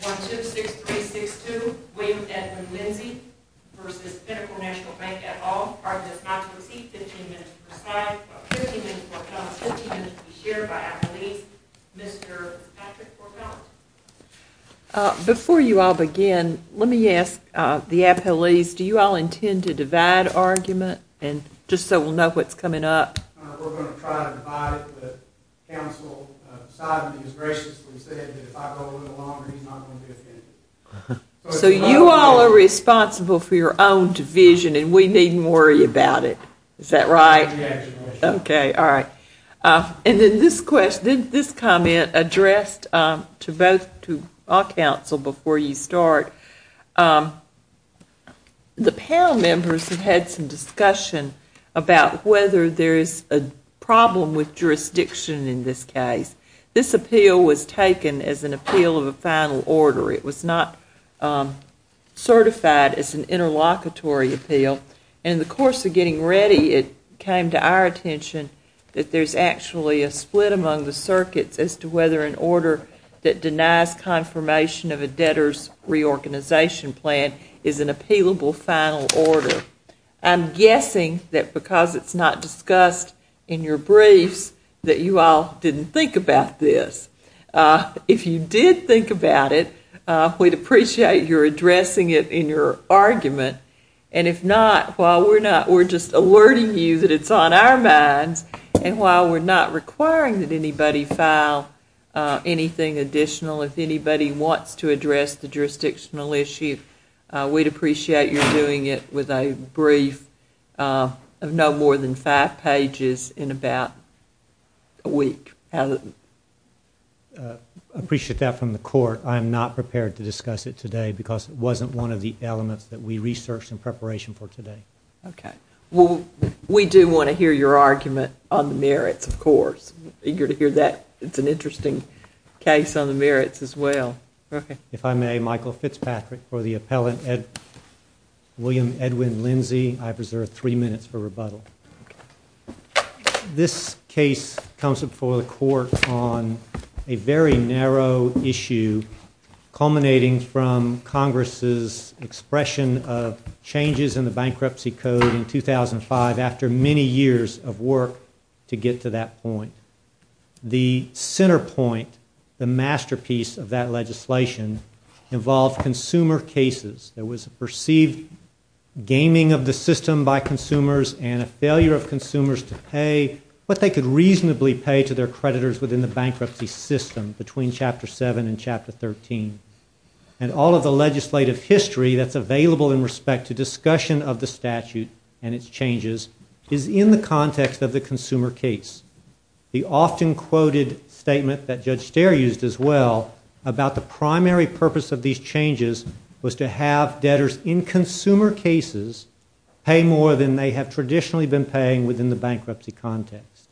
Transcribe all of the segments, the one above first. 1-2-6-3-6-2 William Edmund Lindsey vs. Pinnacle National Bank at all. Part of this matter will see 15 minutes per side, 15 minutes for comment, 15 minutes to be shared by appellees. Mr. Patrick for comment. Before you all begin, let me ask the appellees, do you all intend to divide argument? And just so we'll know what's coming up. We're going to try to divide it, but Council decided and graciously said that if I go a little longer he's not going to be offended. So you all are responsible for your own division and we needn't worry about it, is that right? Yes. Okay, all right. And then this question, this comment addressed to both, to all council before you start. The panel members have had some discussion about whether there is a problem with jurisdiction in this case. This appeal was taken as an appeal of a final order. It was not certified as an interlocutory appeal. In the course of getting ready, it came to our attention that there's actually a split among the circuits as to whether an order that denies confirmation of a debtor's reorganization plan is an appealable final order. I'm guessing that because it's not discussed in your briefs that you all didn't think about this. If you did think about it, we'd appreciate your addressing it in your argument. And if not, while we're not, we're just alerting you that it's on our minds and while we're not requiring that anybody file anything additional, if anybody wants to address the jurisdictional issue, we'd appreciate your doing it with a brief of no more than five pages in about a week. I appreciate that from the court. I am not prepared to discuss it today because it wasn't one of the elements that we researched in preparation for today. Okay. Well, we do want to hear your argument on the merits, of course. Eager to hear that. It's an interesting case on the merits as well. Okay. If I may, Michael Fitzpatrick for the appellant, William Edwin Lindsay. I preserve three minutes for rebuttal. This case comes before the court on a very narrow issue culminating from Congress' expression of changes in the Bankruptcy Code in 2005 after many years of work to get to that point. The center point, the masterpiece of that legislation, involved consumer cases. There was a perceived gaming of the system by consumers and a failure of consumers to pay what they could reasonably pay to their creditors within the bankruptcy system between Chapter 7 and Chapter 13. And all of the legislative history that's available in respect to discussion of the statute and its changes is in the context of the consumer case. The often quoted statement that Judge Steyer used as well about the primary purpose of these changes was to have debtors in consumer cases pay more than they have traditionally been paying within the bankruptcy context.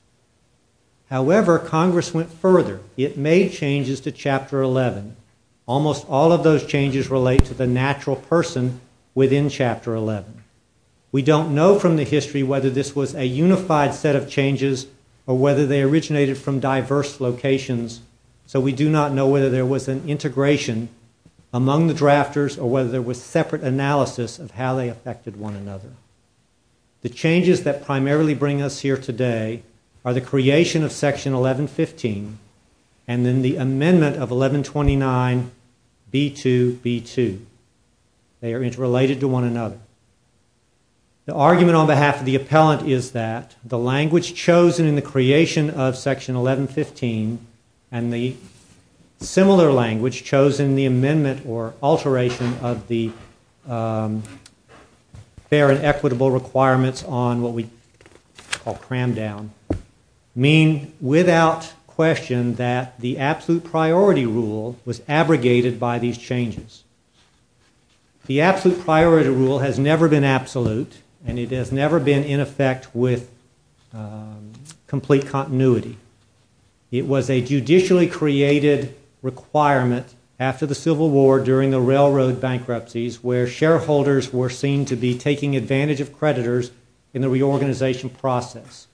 However, Congress went further. It made changes to Chapter 11. Almost all of those changes relate to the natural person within Chapter 11. We don't know from the history whether this was a unified set of changes or whether they originated from diverse locations, so we do not know whether there was an integration among the drafters or whether there was separate analysis of how they affected one another. The changes that primarily bring us here today are the creation of Section 1115 and then the amendment of 1129B2B2. They are interrelated to one another. The argument on behalf of the appellant is that the language chosen in the creation of Section 1115 and the similar language chosen in the amendment or alteration of the fair and equitable requirements on what we call cram down, mean without question that the absolute priority rule was abrogated by these changes. The absolute priority rule has never been absolute and it has never been in effect with complete continuity. It was a judicially created requirement after the Civil War during the railroad bankruptcies where shareholders were seen to be taking advantage of creditors in the reorganization process.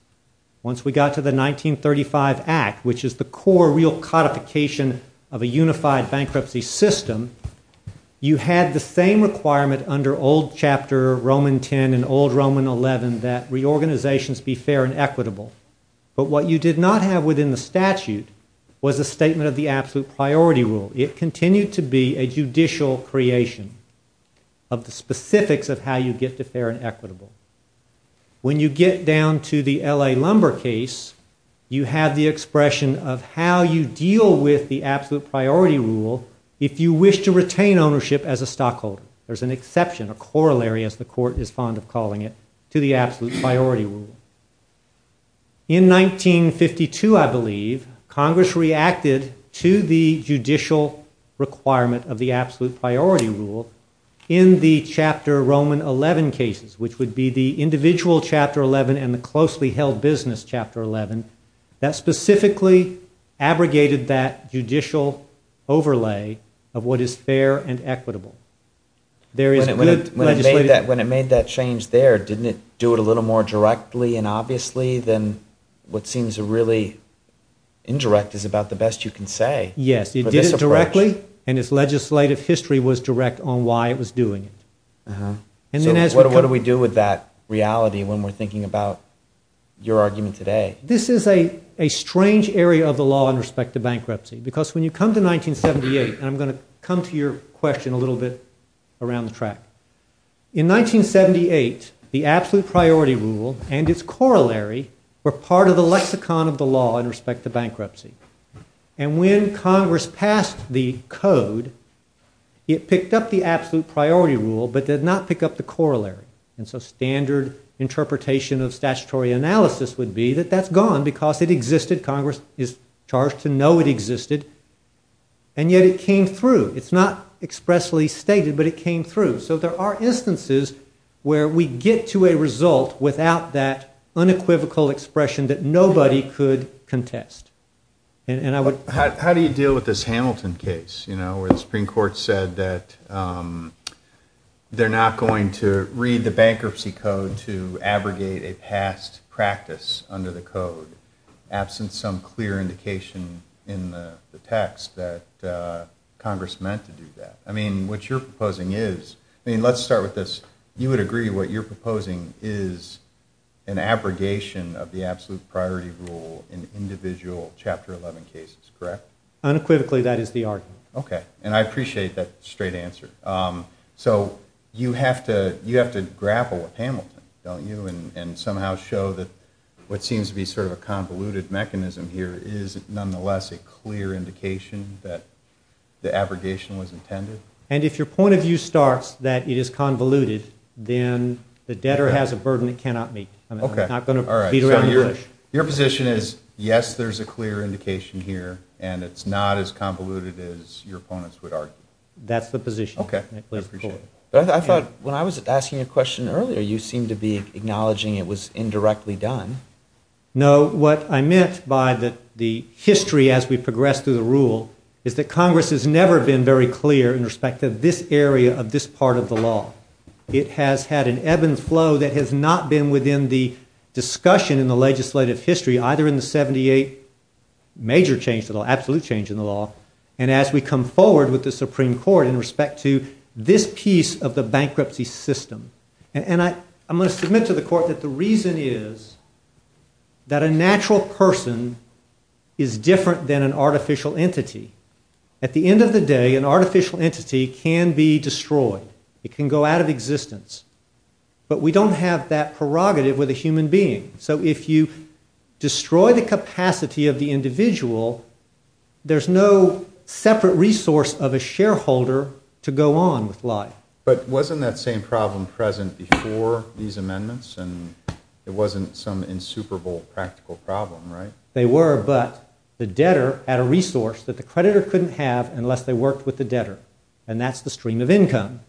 Once we got to the 1935 Act, which is the core real codification of a unified bankruptcy system, you had the same requirement under old Chapter Roman 10 and old Roman 11 that reorganizations be fair and equitable. But what you did not have within the statute was a statement of the absolute priority rule. It continued to be a judicial creation of the specifics of how you get to fair and equitable. When you get down to the L.A. Lumber case, you have the expression of how you deal with the absolute priority rule if you wish to retain ownership as a stockholder. There's an exception, a corollary as the court is fond of calling it, to the absolute priority rule. In 1952, I believe, Congress reacted to the judicial requirement of the absolute priority rule in the Chapter Roman 11 cases, which would be the individual Chapter 11 and the closely held business Chapter 11 that specifically abrogated that judicial overlay of what is fair and equitable. When it made that change there, didn't it do it a little more directly and obviously than what seems really indirect is about the best you can say? Yes, it did it directly, and its legislative history was direct on why it was doing it. So what do we do with that reality when we're thinking about your argument today? This is a strange area of the law in respect to bankruptcy because when you come to 1978, and I'm going to come to your question a little bit around the track. In 1978, the absolute priority rule and its corollary were part of the lexicon of the law in respect to bankruptcy. And when Congress passed the code, it picked up the absolute priority rule but did not pick up the corollary. And so standard interpretation of statutory analysis would be that that's gone because it existed, Congress is charged to know it existed, and yet it came through. It's not expressly stated, but it came through. So there are instances where we get to a result without that unequivocal expression that nobody could contest. How do you deal with this Hamilton case where the Supreme Court said that they're not going to read the bankruptcy code to abrogate a past practice under the code absent some clear indication in the text that Congress meant to do that? I mean, what you're proposing is, I mean, let's start with this. You would agree what you're proposing is an abrogation of the absolute priority rule in individual Chapter 11 cases, correct? Unequivocally, that is the argument. Okay, and I appreciate that straight answer. So you have to grapple with Hamilton, don't you, and somehow show that what seems to be sort of a convoluted mechanism here is nonetheless a clear indication that the abrogation was intended? And if your point of view starts that it is convoluted, then the debtor has a burden it cannot meet. I'm not going to beat around the bush. Your position is, yes, there's a clear indication here and it's not as convoluted as your opponents would argue. That's the position. Okay. I thought when I was asking a question earlier, you seemed to be acknowledging it was indirectly done. No, what I meant by the history as we progressed through the rule is that Congress has never been very clear in respect to this area of this part of the law. It has had an ebb and flow that has not been within the discussion in the legislative history, either in the 78 major change to the law, absolute change in the law, and as we come forward with the Supreme Court in respect to this piece of the bankruptcy system. And I'm going to submit to the Court that the reason is that a natural person is different than an artificial entity. At the end of the day, an artificial entity can be destroyed. It can go out of existence. But we don't have that prerogative with a human being. So if you destroy the capacity of the individual, there's no separate resource of a shareholder to go on with life. But wasn't that same problem present before these amendments? And it wasn't some insuperable practical problem, right? They were, but the debtor had a resource that the creditor couldn't have unless they worked with the debtor, and that's the stream of income.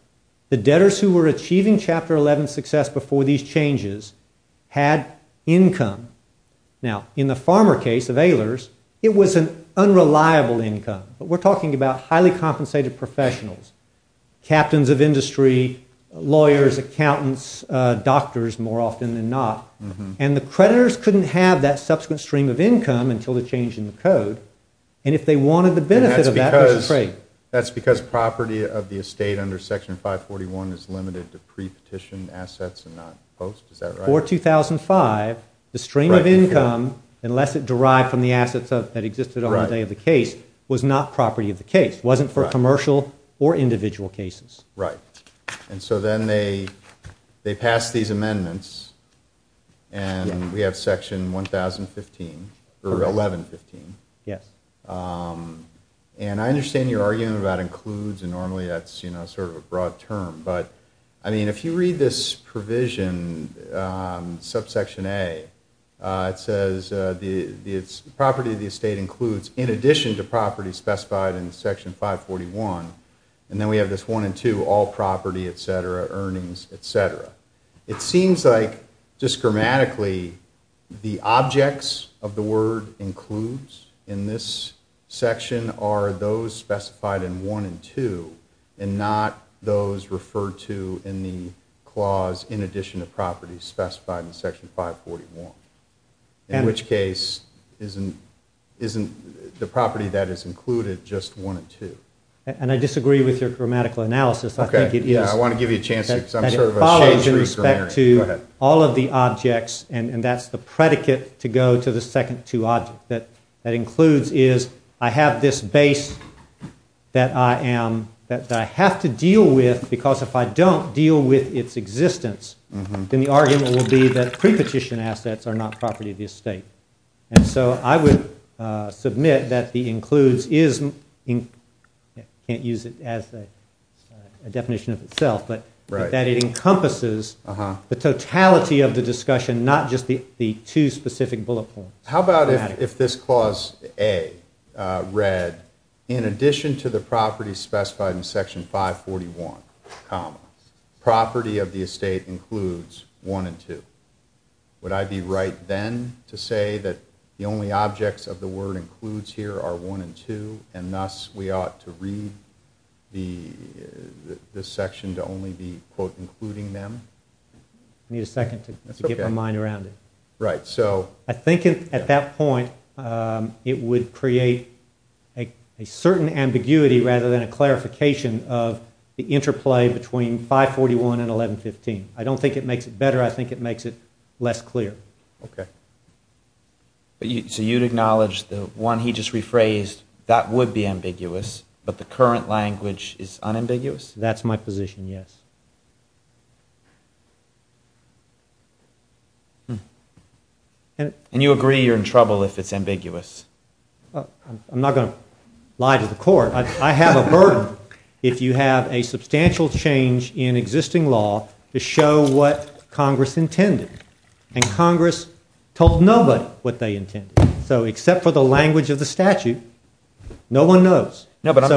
The debtors who were achieving Chapter 11 success before these changes had income. Now, in the Farmer case of Ehlers, it was an unreliable income. But we're talking about highly compensated professionals, captains of industry, lawyers, accountants, doctors more often than not. And the creditors couldn't have that subsequent stream of income until the change in the code. And if they wanted the benefit of that, they should trade. That's because property of the estate under Section 541 is limited to pre-petition assets and not post. Is that right? Before 2005, the stream of income, unless it derived from the assets that existed on the day of the case, was not property of the case, wasn't for commercial or individual cases. Right. And so then they passed these amendments, and we have Section 1015, or 1115. Yes. And I understand your argument about includes, and normally that's sort of a broad term. But, I mean, if you read this provision, subsection A, it says property of the estate includes, in addition to property specified in Section 541, and then we have this one and two, all property, et cetera, earnings, et cetera. It seems like, just grammatically, the objects of the word includes in this section are those specified in one and two, and not those referred to in the clause, in addition to property, specified in Section 541. In which case, isn't the property that is included just one and two? And I disagree with your grammatical analysis. I think it is. I want to give you a chance here because I'm sort of a changer. It follows in respect to all of the objects, and that's the predicate to go to the second two objects. That includes is, I have this base that I am, that I have to deal with because if I don't deal with its existence, then the argument will be that prepetition assets are not property of the estate. And so I would submit that the includes is, I can't use it as a definition of itself, but that it encompasses the totality of the discussion, not just the two specific bullet points. How about if this clause A read, in addition to the property specified in Section 541, property of the estate includes one and two. Would I be right then to say that the only objects of the word includes here are one and two, and thus we ought to read this section to only be, quote, including them? I need a second to get my mind around it. Right, so. I think at that point it would create a certain ambiguity rather than a clarification of the interplay between 541 and 1115. I don't think it makes it better. I think it makes it less clear. Okay. So you'd acknowledge the one he just rephrased, that would be ambiguous, but the current language is unambiguous? That's my position, yes. And you agree you're in trouble if it's ambiguous? I'm not going to lie to the court. I have a burden if you have a substantial change in existing law to show what Congress intended. And Congress told nobody what they intended. So except for the language of the statute, no one knows. No, but I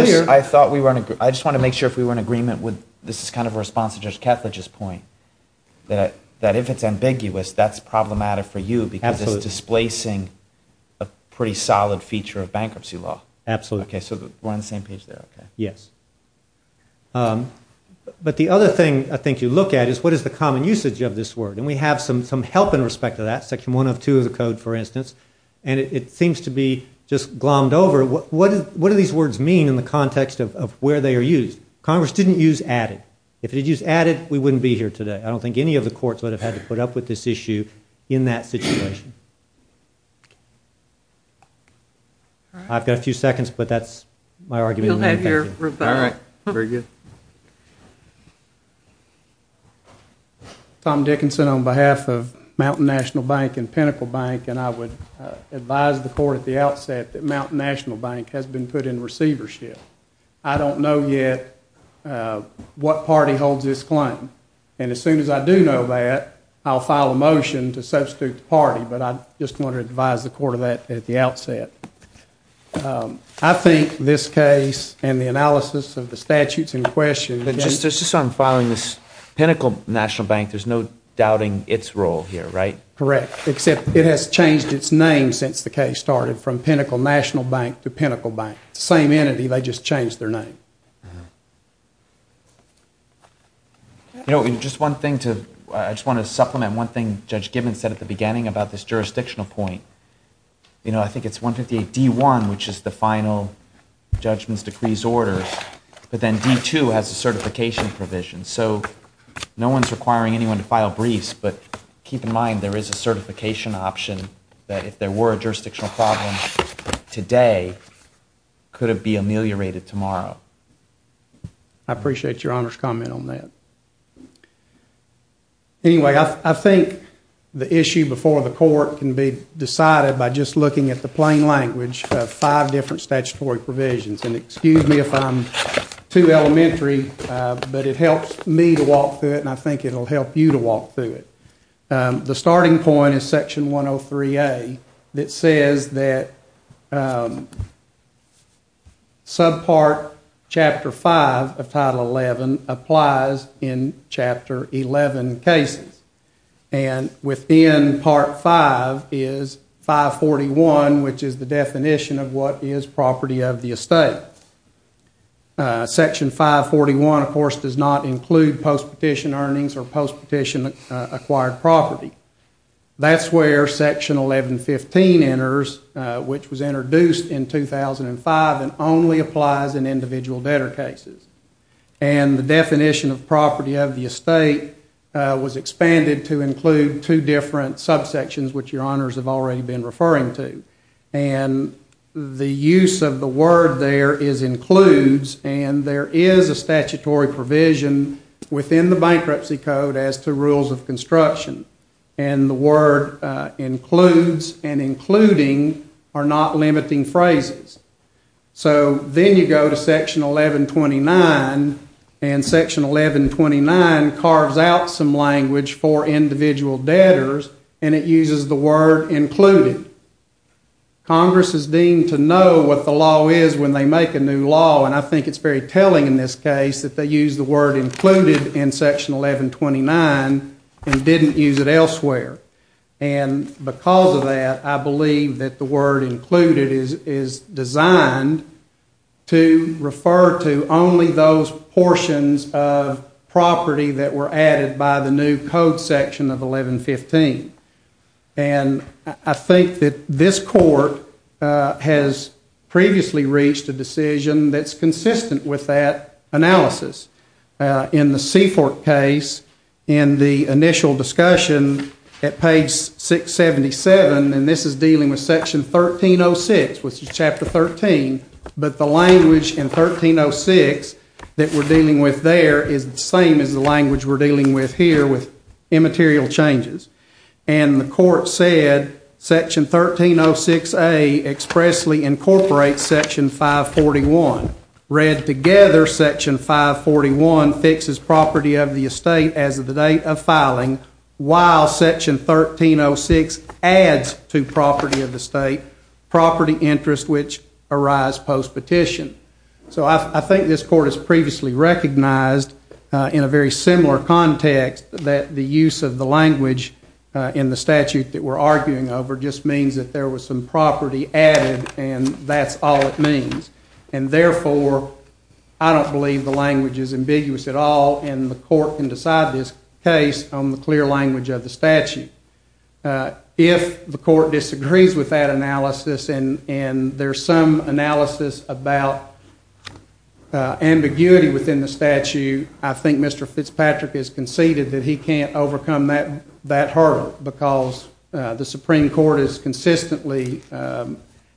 just want to make sure if we were in agreement with, this is kind of a response to Judge Ketledge's point, that if it's ambiguous, that's problematic for you because it's displacing a pretty solid feature of bankruptcy law. Absolutely. Okay, so we're on the same page there, okay. Yes. But the other thing I think you look at is what is the common usage of this word? And we have some help in respect to that, section 1 of 2 of the code, for instance, and it seems to be just glommed over. What do these words mean in the context of where they are used? Congress didn't use added. If it had used added, we wouldn't be here today. I don't think any of the courts would have had to put up with this issue in that situation. I've got a few seconds, but that's my argument. You'll have your rebuttal. All right, very good. I'm Tom Dickinson on behalf of Mountain National Bank and Pinnacle Bank, and I would advise the court at the outset that Mountain National Bank has been put in receivership. I don't know yet what party holds this claim, and as soon as I do know that, I'll file a motion to substitute the party, but I just want to advise the court of that at the outset. I think this case and the analysis of the statutes in question Just as I'm filing this, Pinnacle National Bank, there's no doubting its role here, right? Correct, except it has changed its name since the case started from Pinnacle National Bank to Pinnacle Bank. It's the same entity, they just changed their name. I just want to supplement one thing Judge Gibbons said at the beginning about this jurisdictional point. I think it's 158D1, which is the final judgments, decrees, orders, but then D2 has a certification provision, so no one's requiring anyone to file briefs, but keep in mind there is a certification option that if there were a jurisdictional problem today, could it be ameliorated tomorrow? I appreciate Your Honor's comment on that. Anyway, I think the issue before the court can be decided by just looking at the plain language of five different statutory provisions, and excuse me if I'm too elementary, but it helps me to walk through it and I think it will help you to walk through it. The starting point is Section 103A, that says that subpart Chapter 5 of Title 11 applies in Chapter 11 cases, and within Part 5 is 541, which is the definition of what is property of the estate. Section 541, of course, does not include post-petition earnings or post-petition acquired property. That's where Section 1115 enters, which was introduced in 2005 and only applies in individual debtor cases, and the definition of property of the estate was expanded to include two different subsections, which Your Honors have already been referring to. And the use of the word there is includes, and there is a statutory provision within the Bankruptcy Code as to rules of construction, and the word includes and including are not limiting phrases. So then you go to Section 1129, and Section 1129 carves out some language for individual debtors, and it uses the word included. Congress is deemed to know what the law is when they make a new law, and I think it's very telling in this case that they use the word included in Section 1129 and didn't use it elsewhere. And because of that, I believe that the word included is designed to refer to only those portions of property that were added by the new Code Section of 1115. And I think that this Court has previously reached a decision that's consistent with that analysis. In the Seafort case, in the initial discussion at page 677, and this is dealing with Section 1306, which is Chapter 13, but the language in 1306 that we're dealing with there is the same as the language we're dealing with here with immaterial changes. And the Court said Section 1306A expressly incorporates Section 541. Read together, Section 541 fixes property of the estate as of the date of filing, while Section 1306 adds to property of the state property interest which arise post-petition. So I think this Court has previously recognized in a very similar context that the use of the language in the statute that we're arguing over just means that there was some property added and that's all it means. And therefore, I don't believe the language is ambiguous at all and the Court can decide this case on the clear language of the statute. If the Court disagrees with that analysis and there's some analysis about ambiguity within the statute, I think Mr. Fitzpatrick has conceded that he can't overcome that hurdle because the Supreme Court has consistently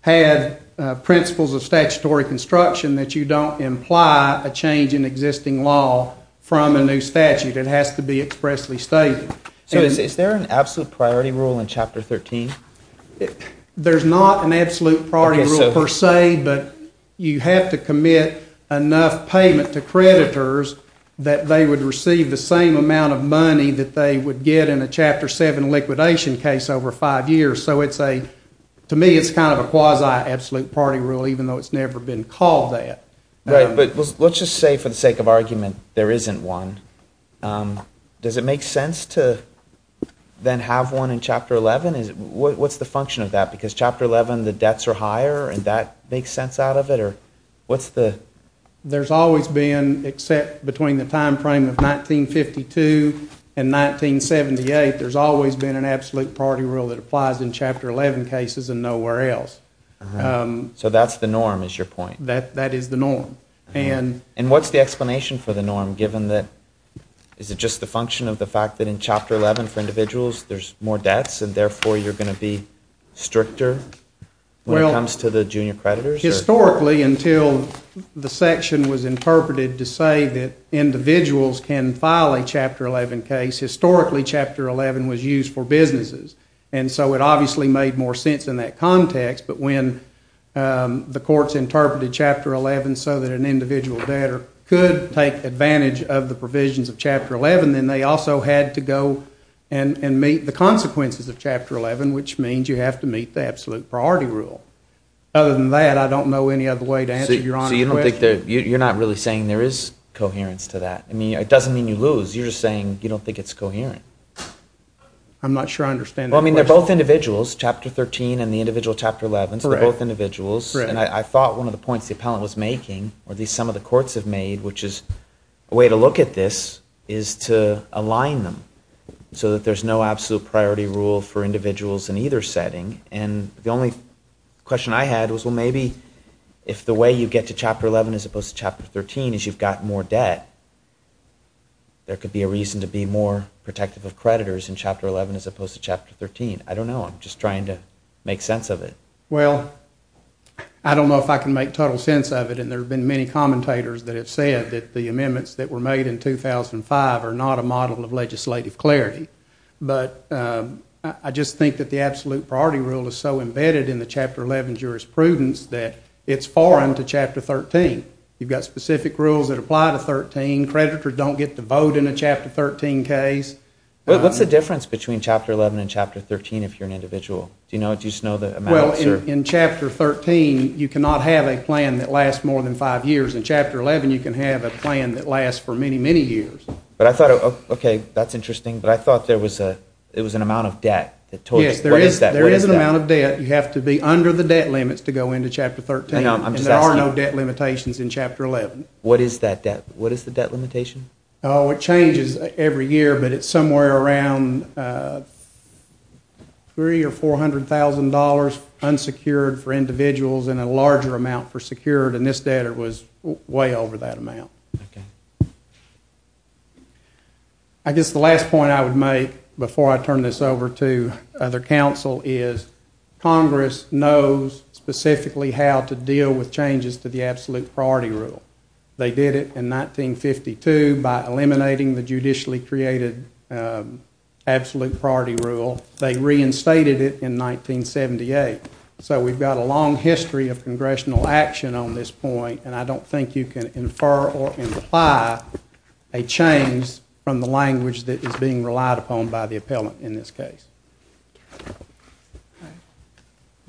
had principles of statutory construction that you don't imply a change in existing law from a new statute. It has to be expressly stated. So is there an absolute priority rule in Chapter 13? There's not an absolute priority rule per se, but you have to commit enough payment to creditors that they would receive the same amount of money that they would get in a Chapter 7 liquidation case over five years. So to me, it's kind of a quasi-absolute priority rule even though it's never been called that. Right, but let's just say for the sake of argument there isn't one. Does it make sense to then have one in Chapter 11? What's the function of that? Because in Chapter 11 the debts are higher and that makes sense out of it? There's always been, except between the time frame of 1952 and 1978, there's always been an absolute priority rule that applies in Chapter 11 cases and nowhere else. So that's the norm is your point? That is the norm. And what's the explanation for the norm given that is it just the function of the fact that in Chapter 11 for individuals there's more debts and therefore you're going to be stricter when it comes to the junior creditors? Historically until the section was interpreted to say that individuals can file a Chapter 11 case, historically Chapter 11 was used for businesses and so it obviously made more sense in that context but when the courts interpreted Chapter 11 so that an individual debtor could take advantage of the provisions of Chapter 11 then they also had to go and meet the consequences of Chapter 11 which means you have to meet the absolute priority rule. Other than that I don't know any other way to answer your question. So you're not really saying there is coherence to that? I mean it doesn't mean you lose, you're just saying you don't think it's coherent. I'm not sure I understand that question. Well I mean they're both individuals, Chapter 13 and the individual Chapter 11, so they're both individuals. Correct. And I thought one of the points the appellant was making or at least some of the courts have made which is a way to look at this is to align them so that there's no absolute priority rule for individuals in either setting and the only question I had was well maybe if the way you get to Chapter 11 as opposed to Chapter 13 is you've got more debt, there could be a reason to be more protective of creditors in Chapter 11 as opposed to Chapter 13. I don't know, I'm just trying to make sense of it. Well I don't know if I can make total sense of it and there have been many commentators that have said that the amendments that were made in 2005 are not a model of legislative clarity, but I just think that the absolute priority rule is so embedded in the Chapter 11 jurisprudence that it's foreign to Chapter 13. You've got specific rules that apply to 13, creditors don't get to vote in a Chapter 13 case. What's the difference between Chapter 11 and Chapter 13 if you're an individual? Do you just know the amounts? Well in Chapter 13 you cannot have a plan that lasts more than five years. In Chapter 11 you can have a plan that lasts for many, many years. But I thought, okay, that's interesting, but I thought there was an amount of debt. Yes, there is an amount of debt. You have to be under the debt limits to go into Chapter 13 and there are no debt limitations in Chapter 11. What is that debt? What is the debt limitation? Oh, it changes every year, but it's somewhere around $300,000 or $400,000 unsecured for individuals and a larger amount for secured and this debtor was way over that amount. I guess the last point I would make before I turn this over to other counsel is Congress knows specifically how to deal with changes to the absolute priority rule. They did it in 1952 by eliminating the judicially created absolute priority rule. They reinstated it in 1978. So we've got a long history of congressional action on this point and I don't think you can infer or imply a change from the language that is being relied upon by the appellant in this case.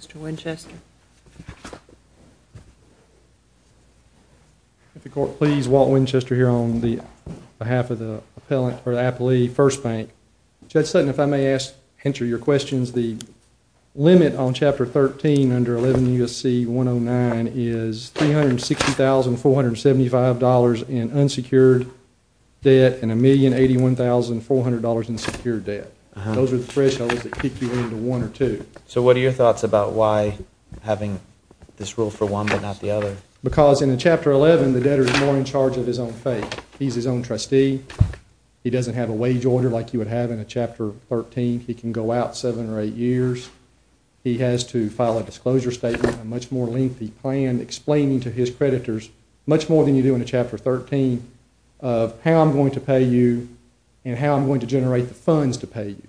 Mr. Winchester. If the court please, Walt Winchester here on behalf of the appellant or the appellee, First Bank. Judge Sutton, if I may answer your questions, the limit on Chapter 13 under 11 U.S.C. 109 is $360,475 in unsecured debt and $1,081,400 in secured debt. Those are the thresholds that kick you into one or two. So what are your thoughts about why having this rule for one but not the other? Because in Chapter 11, the debtor is more in charge of his own fate. He's his own trustee. He doesn't have a wage order like you would have in a Chapter 13. He can go out seven or eight years. He has to file a disclosure statement, a much more lengthy plan explaining to his creditors much more than you do in a Chapter 13 of how I'm going to pay you and how I'm going to generate the funds to pay you.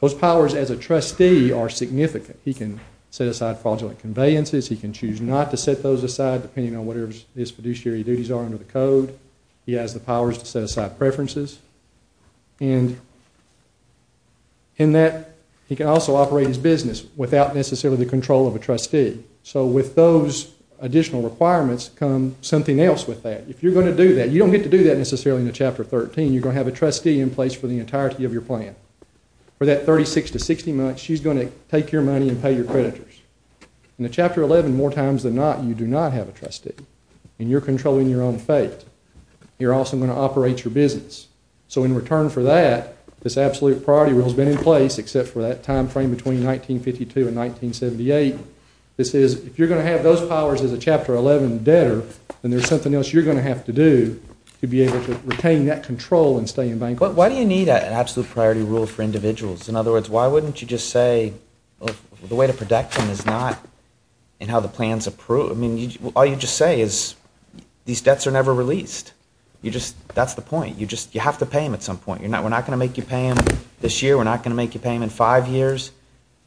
Those powers as a trustee are significant. He can set aside fraudulent conveyances. He can choose not to set those aside depending on whatever his fiduciary duties are under the code. He has the powers to set aside preferences. And in that, he can also operate his business without necessarily the control of a trustee. So with those additional requirements comes something else with that. If you're going to do that, you don't get to do that necessarily in a Chapter 13. You're going to have a trustee in place for the entirety of your plan. For that 36 to 60 months, she's going to take your money and pay your creditors. In a Chapter 11, more times than not, you do not have a trustee and you're controlling your own fate. You're also going to operate your business. So in return for that, this absolute priority rule has been in place except for that time frame between 1952 and 1978. If you're going to have those powers as a Chapter 11 debtor, then there's something else you're going to have to do to be able to retain that control and stay in bankruptcy. Why do you need an absolute priority rule for individuals? In other words, why wouldn't you just say the way to protect them is not in how the plan's approved. All you just say is these debts are never released. That's the point. You have to pay them at some point. We're not going to make you pay them this year. We're not going to make you pay them in five years.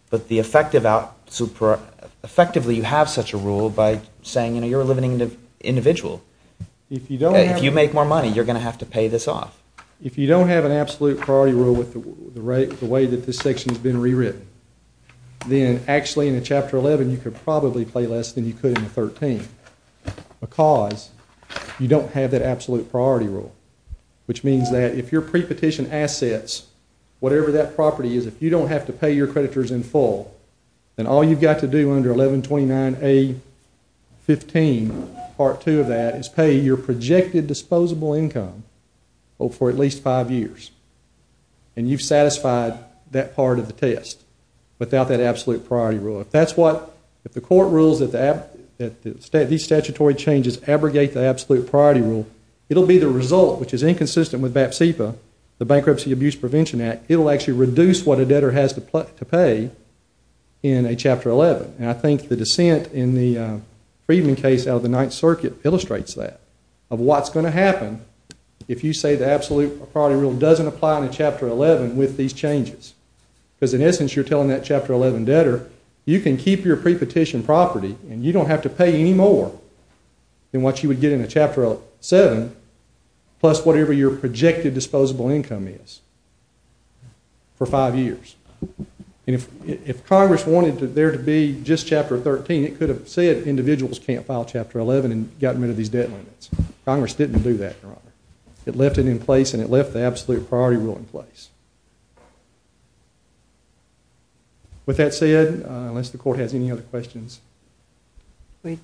But effectively, you have such a rule by saying you're a limited individual. If you make more money, you're going to have to pay this off. If you don't have an absolute priority rule with the way that this section's been rewritten, then actually in a Chapter 11, you could probably pay less than you could in a 13 because you don't have that absolute priority rule, which means that if your prepetition assets, whatever that property is, if you don't have to pay your creditors in full, then all you've got to do under 1129A15, Part 2 of that, is pay your projected disposable income for at least five years. And you've satisfied that part of the test without that absolute priority rule. If the court rules that these statutory changes abrogate the absolute priority rule, it'll be the result, which is inconsistent with BAP-CEPA, the Bankruptcy Abuse Prevention Act, it'll actually reduce what a debtor has to pay in a Chapter 11. And I think the dissent in the Friedman case out of the Ninth Circuit illustrates that, of what's going to happen if you say the absolute priority rule doesn't apply in a Chapter 11 with these changes. Because in essence, you're telling that Chapter 11 debtor, you can keep your prepetition property and you don't have to pay any more than what you would get in a Chapter 7, plus whatever your projected disposable income is for five years. And if Congress wanted there to be just Chapter 13, it could have said individuals can't file Chapter 11 and gotten rid of these debt limits. Congress didn't do that, Your Honor. It left it in place and it left the absolute priority rule in place. With that said, unless the court has any other questions. Thank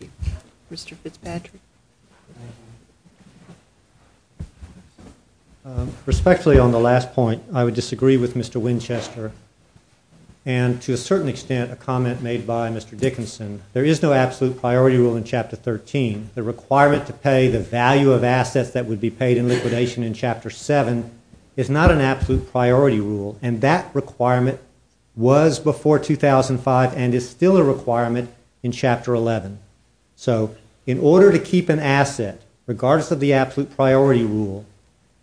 you. Mr. Fitzpatrick. Thank you. Respectfully, on the last point, I would disagree with Mr. Winchester. And to a certain extent, a comment made by Mr. Dickinson, there is no absolute priority rule in Chapter 13. The requirement to pay the value of assets that would be paid in liquidation in Chapter 7 is not an absolute priority rule. And that requirement was before 2005 and is still a requirement in Chapter 11. So, in order to keep an asset, regardless of the absolute priority rule,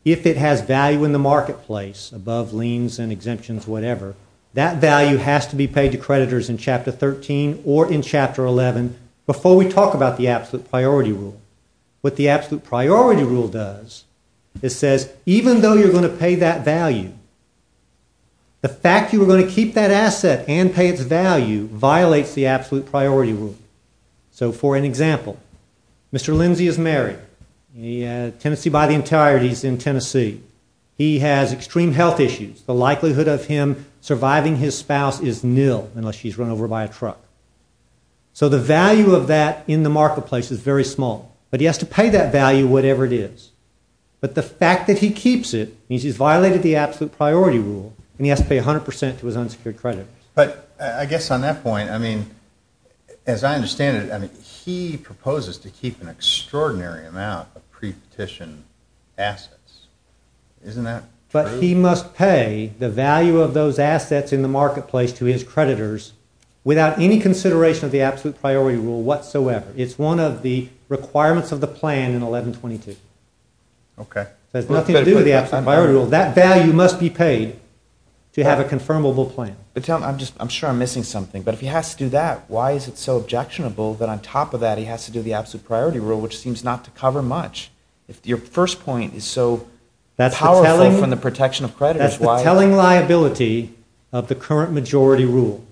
if it has value in the marketplace, above liens and exemptions, whatever, that value has to be paid to creditors in Chapter 13 or in Chapter 11 before we talk about the absolute priority rule. What the absolute priority rule does, it says even though you're going to pay that value, the fact you're going to keep that asset and pay its value violates the absolute priority rule. So, for an example, Mr. Lindsay is married. He has a tenancy by the entireties in Tennessee. He has extreme health issues. The likelihood of him surviving his spouse is nil unless she's run over by a truck. So the value of that in the marketplace is very small. But he has to pay that value, whatever it is. But the fact that he keeps it means he's violated the absolute priority rule and he has to pay 100% to his unsecured creditors. But, I guess on that point, I mean, as I understand it, he proposes to keep an extraordinary amount of pre-petition assets. Isn't that true? But he must pay the value of those assets in the marketplace to his creditors without any consideration of the absolute priority rule whatsoever. It's one of the requirements of the plan in 1122. It has nothing to do with the absolute priority rule. That value must be paid to have a confirmable plan. But tell me, I'm sure I'm missing something, but if he has to do that, why is it so objectionable that on top of that he has to do the absolute priority rule, which seems not to cover much? Your first point is so powerful from the protection of creditors. That's the telling liability of the current majority rule.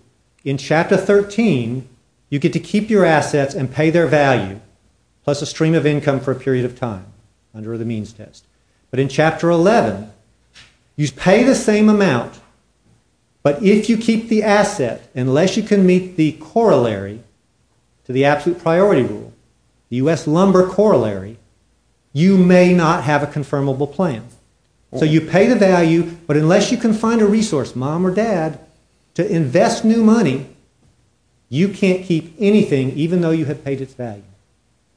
In chapter 13, you get to keep your assets and pay their value plus a stream of income for a period of time under the means test. But in chapter 11, you pay the same amount, but if you keep the asset, unless you can meet the corollary to the absolute priority rule, the U.S. lumber corollary, you may not have a confirmable plan. So you pay the value, but unless you can find a resource, mom or dad, to invest new money, you can't keep anything even though you have paid its value.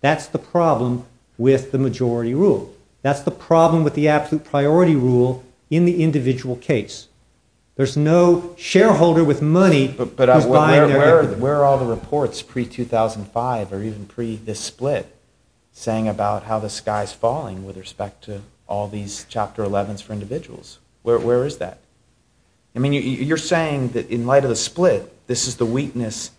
That's the problem with the majority rule. That's the problem with the absolute priority rule in the individual case. There's no shareholder with money Where are all the reports pre-2005 or even pre this split saying about how the sky is falling with respect to all these chapter 11s for individuals? Where is that? I mean, you're saying that in light of the split, this is the weakness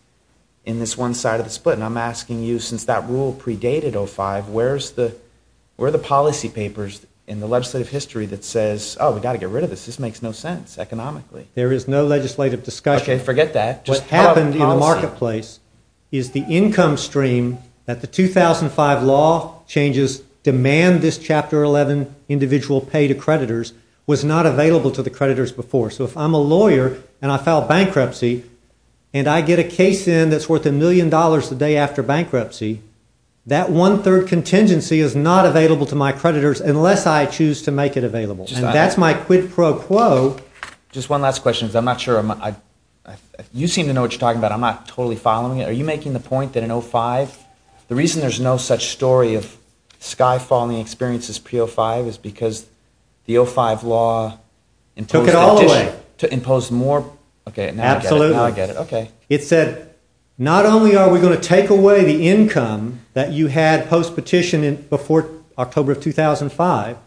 in this one side of the split. And I'm asking you, since that rule predated 05, where are the policy papers in the legislative history that says, oh, we've got to get rid of this. This makes no sense economically. There is no legislative discussion. Okay, forget that. What happened in the marketplace is the income stream that the 2005 law changes demand this chapter 11 individual pay to creditors was not available to the creditors before. So if I'm a lawyer and I file bankruptcy and I get a case in that's worth a million dollars the day after bankruptcy, that one-third contingency is not available to my creditors unless I choose to make it available. And that's my quid pro quo. Just one last question because I'm not sure. You seem to know what you're talking about. I'm not totally following it. Are you making the point that in 05, the reason there's no such story of sky-falling experiences pre-05 is because the 05 law took it all away. To impose more. Okay, now I get it. It said, not only are we going to take away the income that you had post-petition before October of 2005,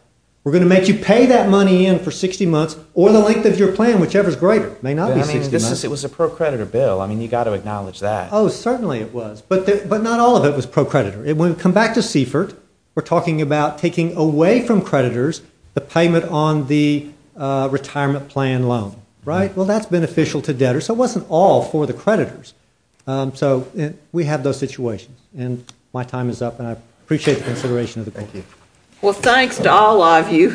we're going to make you pay that money in for 60 months or the length of your plan, whichever is greater. It may not be 60 months. It was a pro-creditor bill. I mean, you've got to acknowledge that. Oh, certainly it was. But not all of it was pro-creditor. When we come back to Seifert, we're talking about taking away from creditors the payment on the retirement plan loan. Right? Well, that's beneficial to debtors. So it wasn't all for the creditors. So we have those situations. And my time is up. And I appreciate the consideration of the court. Thank you. Well, thanks to all of you.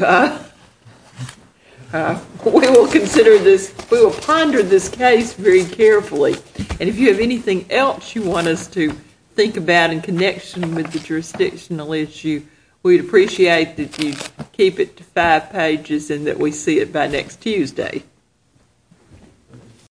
We will consider this, we will ponder this case very carefully. And if you have anything else you want us to think about in connection with the jurisdictional issue, we'd appreciate that you keep it to five pages and that we see it by next Tuesday.